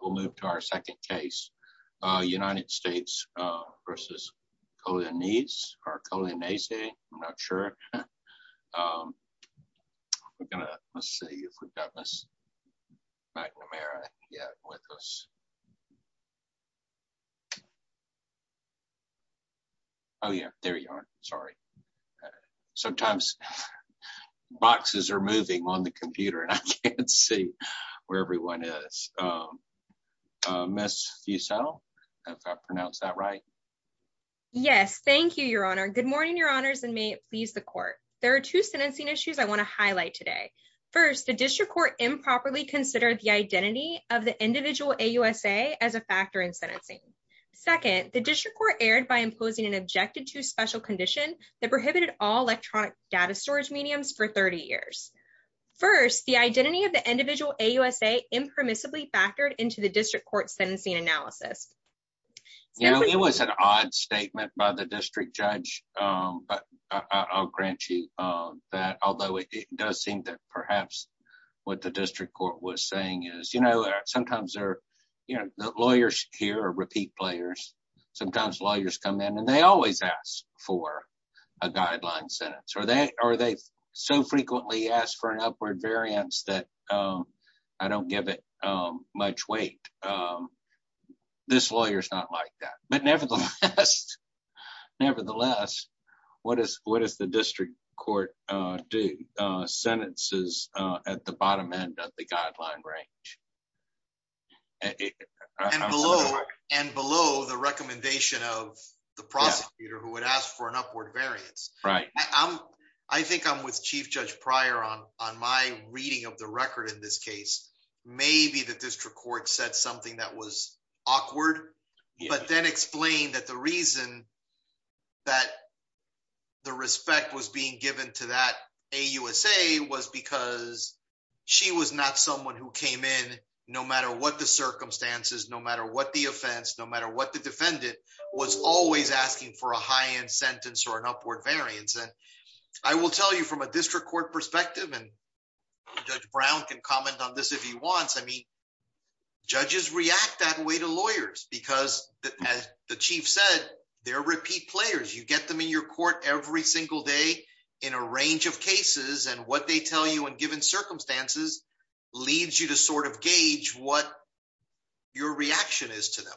We'll move to our second case, United States versus Coglianese or Coglianese, I'm not sure. We're gonna, let's see if we've got Miss McNamara with us. Oh yeah, there you are, sorry. Sometimes boxes are moving on the computer and I can't see where everyone is. Miss Fussell, if I pronounced that right? Yes, thank you, your honor. Good morning, your honors, and may it please the court. There are two sentencing issues I want to highlight today. First, the district court improperly considered the identity of the individual AUSA as a factor in sentencing. Second, the district court erred by imposing an objected to special condition that prohibited all electronic data storage mediums for 30 years. First, the identity of the individual AUSA impermissibly factored into the district court sentencing analysis. You know, it was an odd statement by the district judge, but I'll grant you that, although it does seem that perhaps what the district court was saying is, you know, sometimes they're, you know, are they so frequently asked for an upward variance that I don't give it much weight. This lawyer's not like that, but nevertheless, what does the district court do? Sentences at the bottom end of the guideline range. And below the recommendation of the prosecutor who asked for an upward variance. I think I'm with Chief Judge Pryor on my reading of the record in this case. Maybe the district court said something that was awkward, but then explained that the reason that the respect was being given to that AUSA was because she was not someone who came in, no matter what the circumstances, no matter what the offense, no matter what the defendant was always asking for a high-end sentence or an upward variance. And I will tell you from a district court perspective, and Judge Brown can comment on this if he wants. I mean, judges react that way to lawyers because as the chief said, they're repeat players. You get them in your court every single day in a range of cases and what they tell you in given circumstances leads you to sort of gauge what your reaction is to them.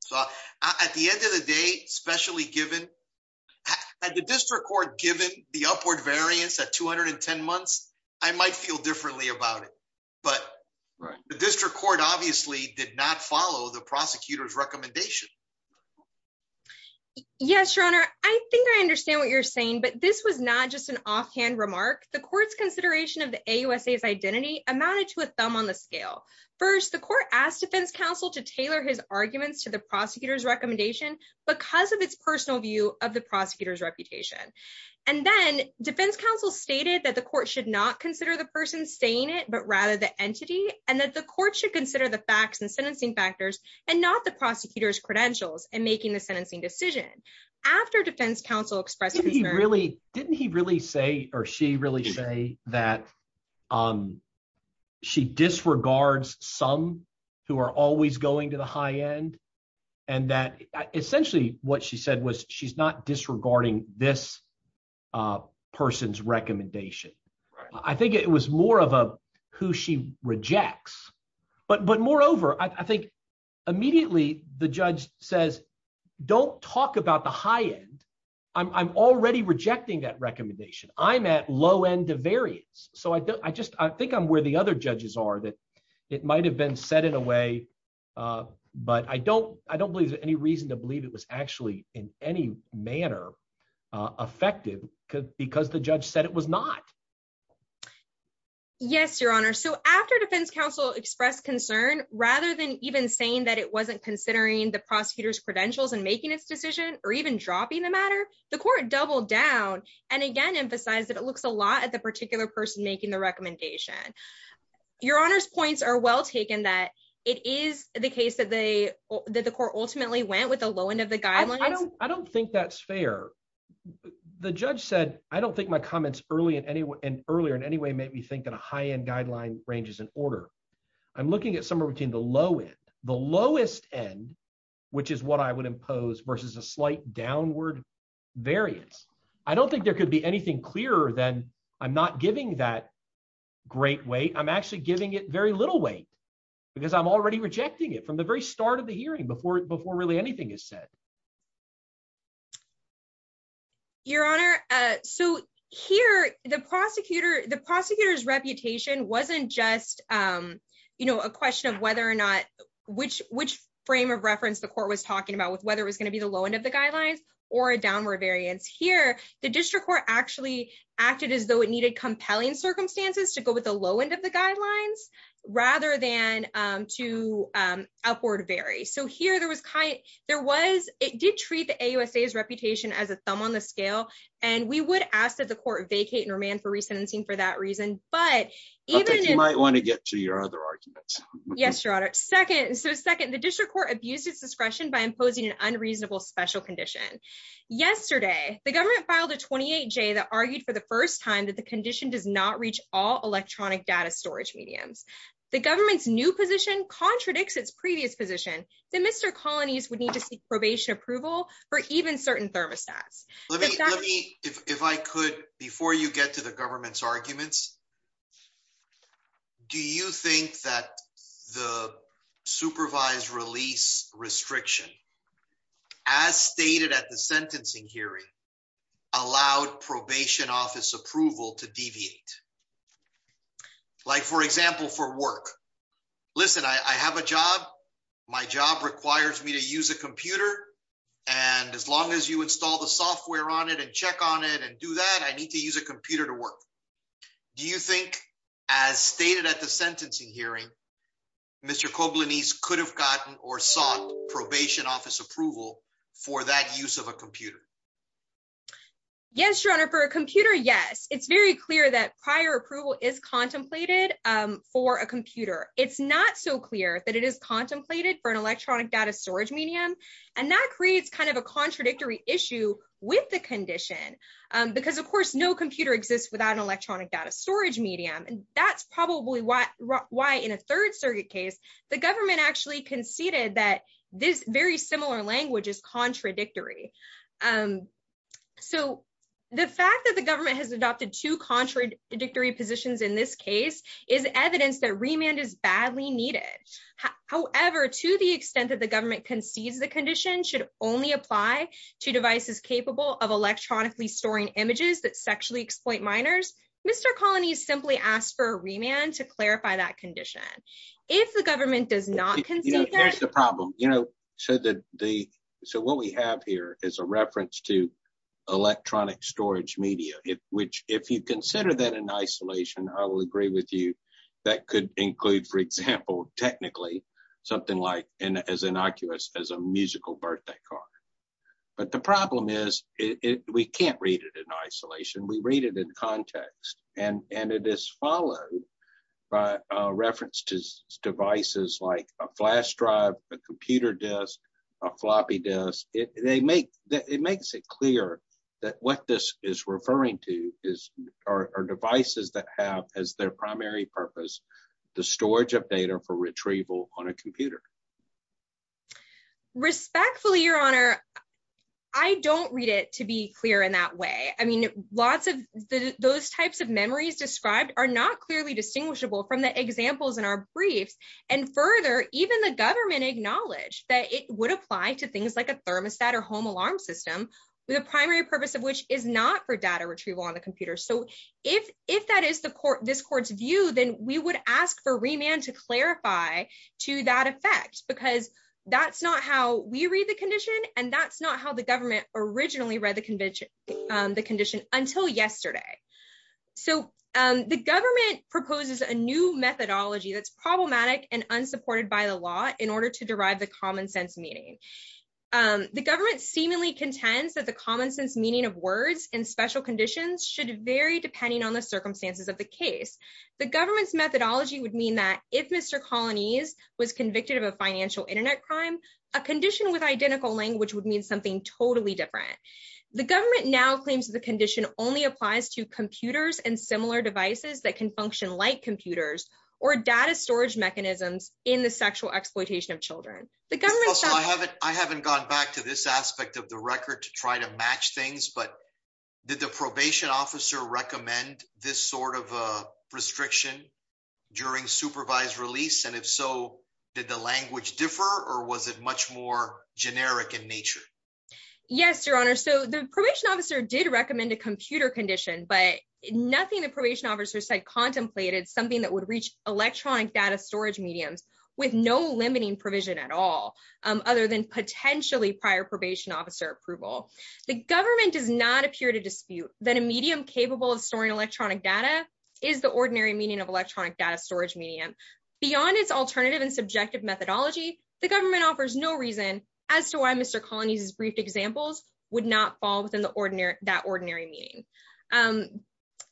So at the end of the day, especially at the district court, given the upward variance at 210 months, I might feel differently about it, but the district court obviously did not follow the prosecutor's recommendation. Yes, your honor. I think I understand what you're saying, but this was not just an offhand remark. The court's consideration of the AUSA's identity amounted to a thumb on the scale. First, the court asked defense counsel to tailor his arguments to the prosecutor's recommendation because of its personal view of the prosecutor's reputation. And then defense counsel stated that the court should not consider the person saying it, but rather the entity and that the court should consider the facts and sentencing factors and not the prosecutor's credentials and making the that she disregards some who are always going to the high end and that essentially what she said was she's not disregarding this person's recommendation. I think it was more of a who she rejects, but moreover, I think immediately the judge says don't talk about the high end. I'm already rejecting that recommendation. I'm at low end of variance. So I just I think I'm where the other judges are that it might have been set in a way. But I don't I don't believe there's any reason to believe it was actually in any manner effective because the judge said it was not. Yes, your honor. So after defense counsel expressed concern, rather than even saying that it wasn't considering the prosecutor's credentials and making its or even dropping the matter, the court doubled down and again emphasized that it looks a lot at the particular person making the recommendation. Your honor's points are well taken that it is the case that they that the court ultimately went with a low end of the guidelines. I don't think that's fair. The judge said I don't think my comments early in any way and earlier in any way made me think that a high end guideline ranges in order. I'm looking at somewhere between the low end, the lowest end, which is what I would impose versus a slight downward variance. I don't think there could be anything clearer than I'm not giving that great way. I'm actually giving it very little weight because I'm already rejecting it from the very start of the hearing before before really anything is said. Your honor. So here the prosecutor, the prosecutor's reputation wasn't just, you know, a question of whether or not which which frame of reference the court was talking about with whether it was going to be the low end of the guidelines or a downward variance. Here, the district court actually acted as though it needed compelling circumstances to go with the low end of the guidelines rather than to upward vary. So here there was kind there was it did treat the AUSA's reputation as a thumb on the scale. And we would ask that the court vacate and remand for resentencing for that reason. But you might want to get to your other arguments. Yes, your honor. Second. So second, the district court abuses discretion by imposing an unreasonable special condition. Yesterday, the government filed a 28 J that argued for the first time that the condition does not reach all electronic data storage mediums. The government's new position contradicts its previous position that Mr. would need to seek probation approval for even certain thermostats. If I could, before you get to the government's arguments, do you think that the supervised release restriction as stated at the sentencing hearing allowed probation office approval to deviate? Like, for example, for work? Listen, I have a job. My job requires me to use a computer. And as long as you install the software on it and check on it and do that, I need to use a computer to work. Do you think, as stated at the sentencing hearing, Mr. Koblenz could have gotten or sought probation office approval for that use of a computer? Yes, your honor for a computer? Yes. It's very clear that prior approval is contemplated for a computer. It's not so clear that it is contemplated for an electronic data storage medium. And that creates kind of a contradictory issue with the condition. Because of course, no computer exists without an electronic data storage medium. And that's probably why in a third circuit case, the government actually conceded that this very similar language is contradictory positions in this case is evidence that remand is badly needed. However, to the extent that the government concedes the condition should only apply to devices capable of electronically storing images that sexually exploit minors, Mr. Colonies simply asked for remand to clarify that condition. If the government does not concede the problem, you know, so that the so what we have here is a reference to electronic storage media, which if you consider that in isolation, I will agree with you, that could include, for example, technically, something like in as innocuous as a musical birthday card. But the problem is, we can't read it in isolation, we read it in context. And and it is followed by a reference to devices like a flash drive, a computer desk, a floppy disk, they make that it makes it clear that what this is referring to is our devices that have as their primary purpose, the storage of data for retrieval on a computer. Respectfully, Your Honor, I don't read it to be clear in that way. I mean, lots of those types of memories described are not clearly distinguishable from the examples in our briefs. And further, even the government acknowledged that it would apply to things like a thermostat or home alarm system, with a primary purpose of which is not for data retrieval on the computer. So if if that is the court, this court's view, then we would ask for remand to clarify to that effect, because that's not how we read the condition. And that's not how the government originally read the convention, the condition until yesterday. So the government proposes a new methodology that's problematic and unsupported by the law in order to derive the common sense meeting. The government seemingly contends that the common sense meaning of words in special conditions should vary depending on the circumstances of the case. The government's methodology would mean that if Mr. Colonies was convicted of a financial internet crime, a condition with identical language would mean something totally different. The government now claims the condition only applies to computers and similar devices that function like computers, or data storage mechanisms in the sexual exploitation of children, the government. So I haven't, I haven't gone back to this aspect of the record to try to match things. But did the probation officer recommend this sort of restriction during supervised release? And if so, did the language differ? Or was it much more generic in nature? Yes, Your Honor. So the probation officer did recommend a computer condition, but nothing the probation officer said contemplated something that would reach electronic data storage mediums with no limiting provision at all, other than potentially prior probation officer approval. The government does not appear to dispute that a medium capable of storing electronic data is the ordinary meaning of electronic data storage medium. Beyond its alternative and subjective methodology, the government offers no reason as to why Mr. that ordinary meaning.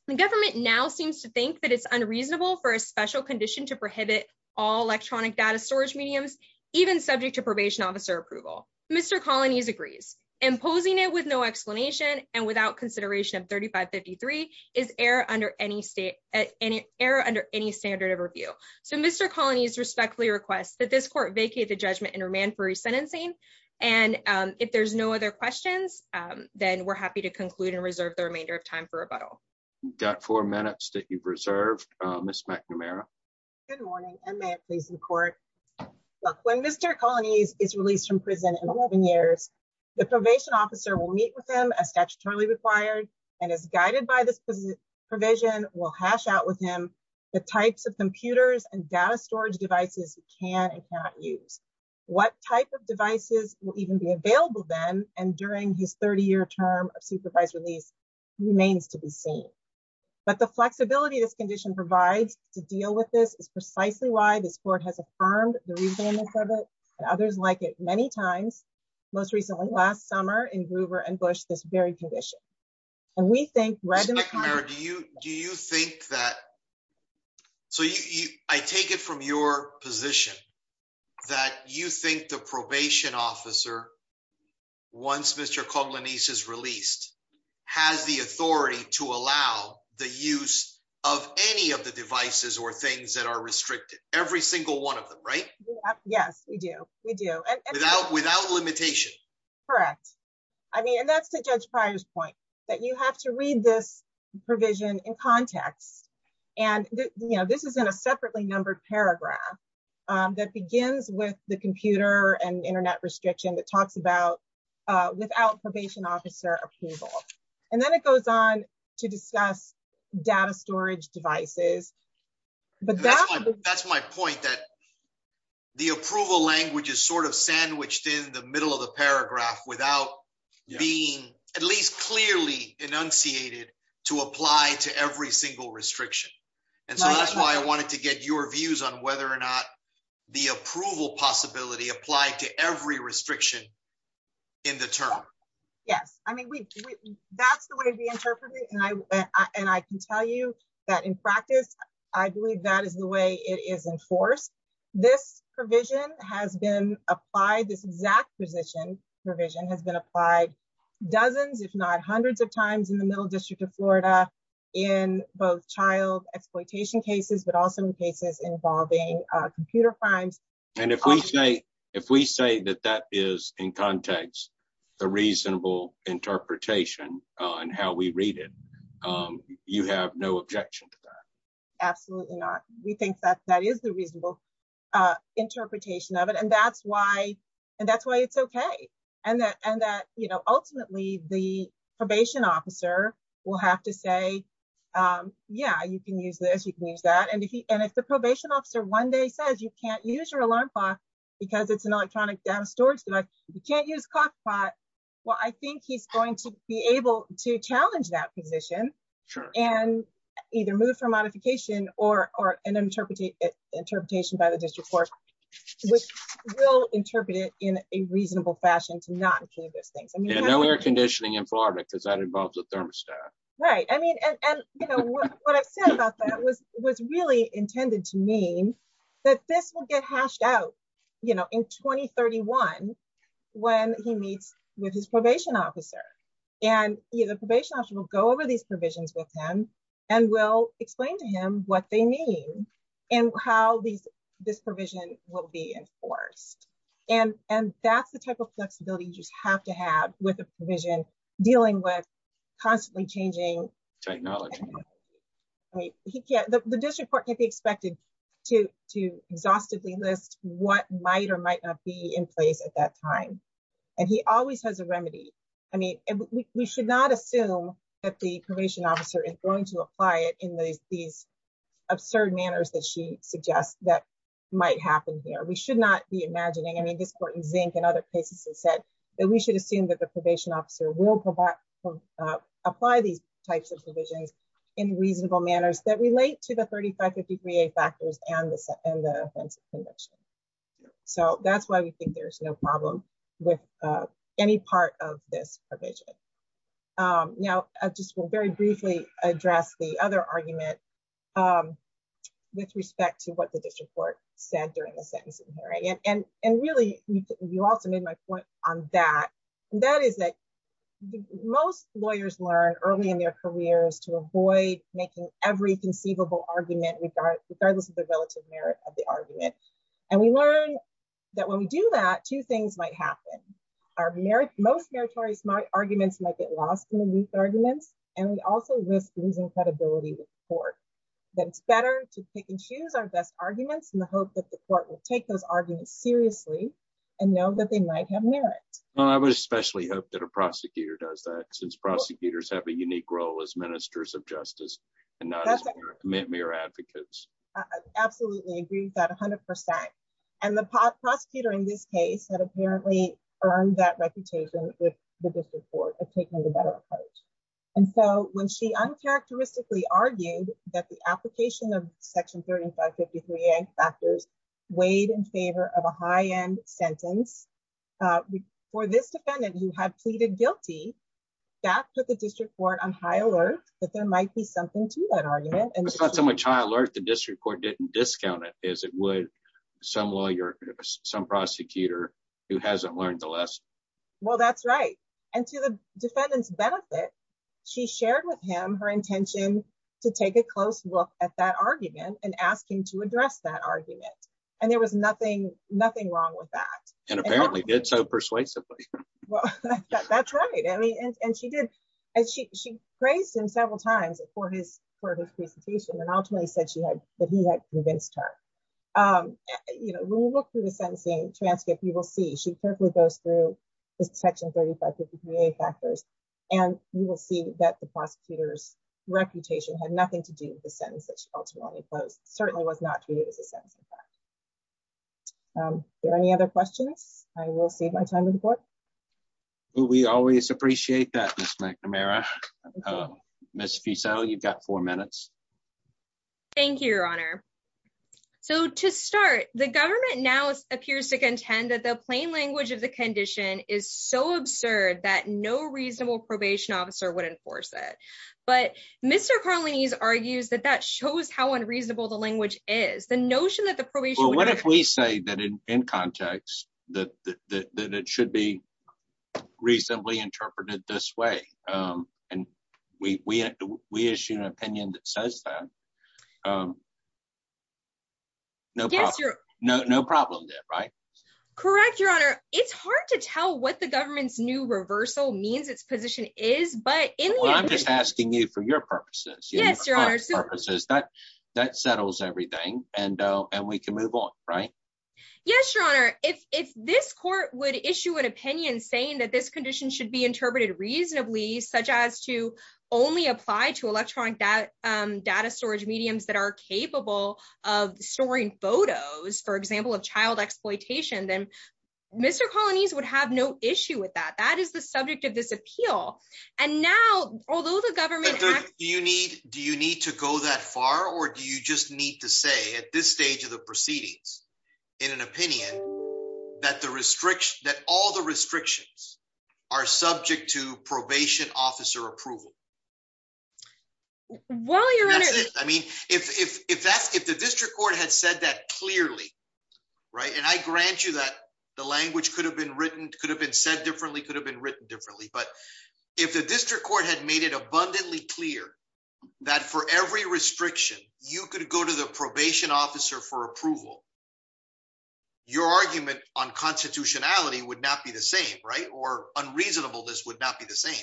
The government now seems to think that it's unreasonable for a special condition to prohibit all electronic data storage mediums, even subject to probation officer approval. Mr. Colonies agrees, imposing it with no explanation and without consideration of 3553 is error under any state and error under any standard of review. So Mr. Colonies respectfully requests that this court vacate the judgment and remand for resentencing. And if there's no other questions, then we're happy to conclude and reserve the remainder of time for rebuttal. Got four minutes that you've reserved, Miss McNamara. Good morning, and may it please the court. When Mr. Colonies is released from prison in 11 years, the probation officer will meet with him as statutorily required, and as guided by this provision will hash out with him the types of computers and data storage devices he can and type of devices will even be available then and during his 30 year term of supervised release remains to be seen. But the flexibility this condition provides to deal with this is precisely why this court has affirmed the reason others like it many times, most recently last summer in Gruber and Bush, this very condition. And we think right in the mirror, do you do you think that so you I take it from your position that you think the probation officer once Mr. Colonies is released, has the authority to allow the use of any of the devices or things that are restricted every single one of them, right? Yes, we do. We do. And without without limitation. Correct. I mean, and that's the judge prior's point that you have to read this provision in context. And, you know, this is in a separately numbered paragraph that begins with the computer and internet restriction that talks about without probation officer approval. And then it goes on to discuss data storage devices. But that's my point that the approval language is sort of paragraph without being at least clearly enunciated to apply to every single restriction. And so that's why I wanted to get your views on whether or not the approval possibility applied to every restriction in the term. Yes, I mean, that's the way we interpret it. And I and I can tell you that in practice, I believe that is the way it is enforced. This provision has been applied this exact position provision has been applied dozens, if not hundreds of times in the Middle District of Florida, in both child exploitation cases, but also in cases involving computer crimes. And if we say, if we say that that is in context, the reasonable interpretation on how we read it, you have no objection to that. Absolutely not. We think that that is the reasonable interpretation of it. And that's why, and that's why it's okay. And that and that, you know, ultimately, the probation officer will have to say, yeah, you can use this, you can use that. And if he and if the probation officer one day says you can't use your alarm clock, because it's an electronic data storage device, you can't use clock pot. Well, I think he's going to be able to challenge that position, sure. And either move for modification or or an interpretative interpretation by the district court, which will interpret it in a reasonable fashion to not include those things. And then we are conditioning in Florida, because that involves a thermostat, right? I mean, and you know, what I've said about that was was really intended to that this will get hashed out, you know, in 2031, when he meets with his probation officer, and the probation officer will go over these provisions with him, and will explain to him what they mean, and how these this provision will be enforced. And, and that's the type of flexibility you just have to have with a provision dealing with constantly changing technology. I mean, he can't the district court can't be expected to to exhaustively list what might or might not be in place at that time. And he always has a remedy. I mean, we should not assume that the probation officer is going to apply it in these these absurd manners that she suggests that might happen here. We should not be imagining I mean, this court in zinc and other cases has said that we should assume that the probation officer will provide apply these types of provisions. In reasonable manners that relate to the 3550 VA factors and the offensive conviction. So that's why we think there's no problem with any part of this provision. Now, I just will very briefly address the other argument with respect to what the district court said during the sentencing hearing and and really, you also made my point on that. That is that most lawyers learn early in their careers to avoid making every conceivable argument regard regardless of the relative merit of the argument. And we learn that when we do that two things might happen, our merit, most meritorious my arguments might get lost in the weak arguments. And we also risk losing credibility with court, then it's better to pick and choose our best arguments in the hope that the court will take those arguments seriously, and know that they might have merit. Well, I would especially hope that a prosecutor does that since prosecutors have a unique role as ministers of justice, and not mere advocates. Absolutely agree with that 100%. And the prosecutor in this case had apparently earned that reputation with the district court of taking the better approach. And so when she uncharacteristically argued that the application of this defendant who had pleaded guilty, that put the district court on high alert, that there might be something to that argument. And it's not so much high alert, the district court didn't discount it as it would some lawyer, some prosecutor who hasn't learned the lesson. Well, that's right. And to the defendant's benefit, she shared with him her intention to take a close look at that argument and ask him to address that argument. And there was nothing, nothing wrong with that. And apparently did so persuasively. That's right. I mean, and she did. And she, she praised him several times for his, for his presentation, and ultimately said she had that he had convinced her. You know, when you look through the sentencing transcript, you will see she carefully goes through this section 3553A factors. And you will see that the prosecutor's reputation had nothing to do with the sentence that she ultimately posed, certainly was not treated as a sentencing fact. Any other questions? I will save my time on the board. We always appreciate that. Ms. McNamara. Ms. Feasel, you've got four minutes. Thank you, Your Honor. So to start, the government now appears to contend that the plain language of the condition is so absurd that no reasonable probation officer would enforce it. But Mr. Carlini's argues that that shows how unreasonable the language is the notion that the probation What if we say that in context, that that it should be reasonably interpreted this way. And we issue an opinion that says that. No, no, no problem there, right? Correct, Your Honor. It's hard to tell what the government's new reversal means its position is. But I'm just asking you for your purposes. Yes, Your Honor purposes that that settles everything and and we can move on, right? Yes, Your Honor, if this court would issue an opinion saying that this condition should be interpreted reasonably such as to only apply to electronic data storage mediums that are capable of storing photos, for example, of child exploitation, then Mr. Carlini's would have no issue with that. That is the subject of this appeal. And now, although the government you need, do you need to go that far? Or do you just need to say at this stage of the proceedings, in an opinion, that the restriction that all the restrictions are subject to probation officer approval? Well, Your Honor, I mean, if that's if the district court had said that clearly, right, and I grant you that the language could have been written could have been said differently could have been written differently. But if the district court had made it abundantly clear that for every restriction, you could go to the probation officer for approval. Your argument on constitutionality would not be the same, right? Or unreasonable, this would not be the same.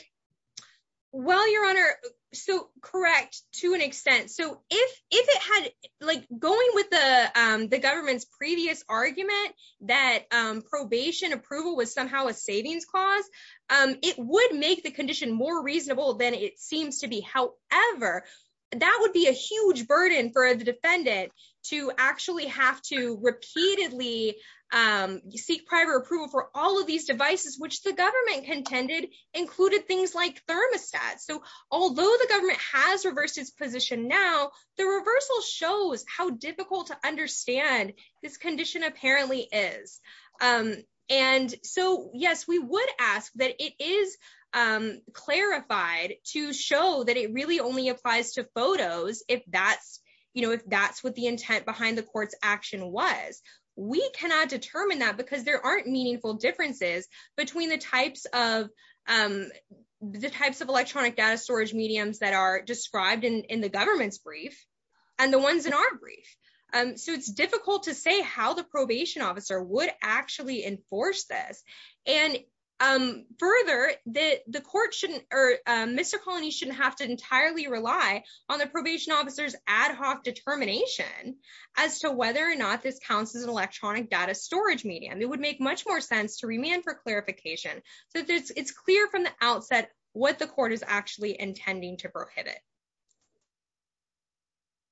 Well, Your Honor, so correct to an extent. So if if it had like going with the government's previous argument, that probation approval was somehow a savings clause, it would make the condition more reasonable than it seems to be. However, that would be a huge burden for the defendant to actually have to repeatedly seek private approval for all of these devices, which the government contended included things like thermostats. So although the government has reversed its position now, the reversal shows how difficult to understand this condition apparently is. And so yes, we would ask that it is clarified to show that it really only applies to photos. If that's, you know, if that's what the intent behind the court's action was, we cannot determine that because there aren't meaningful differences between the types of the types of electronic data storage mediums that are described in the government's brief, and the ones in our brief. So it's difficult to say how the probation officer would actually enforce this. And further, that the court shouldn't or Mr. Colony shouldn't have to entirely rely on the probation officer's electronic data storage medium, it would make much more sense to remand for clarification. So it's clear from the outset, what the court is actually intending to prohibit.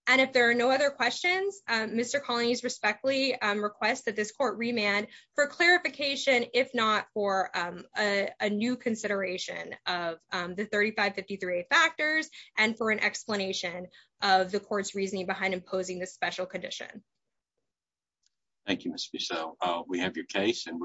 And if there are no other questions, Mr. colonies respectfully request that this court remand for clarification if not for a new consideration of the 3553 factors and for an explanation of the court's reasoning behind imposing this special condition. Thank you, Mr. So we have your case and we're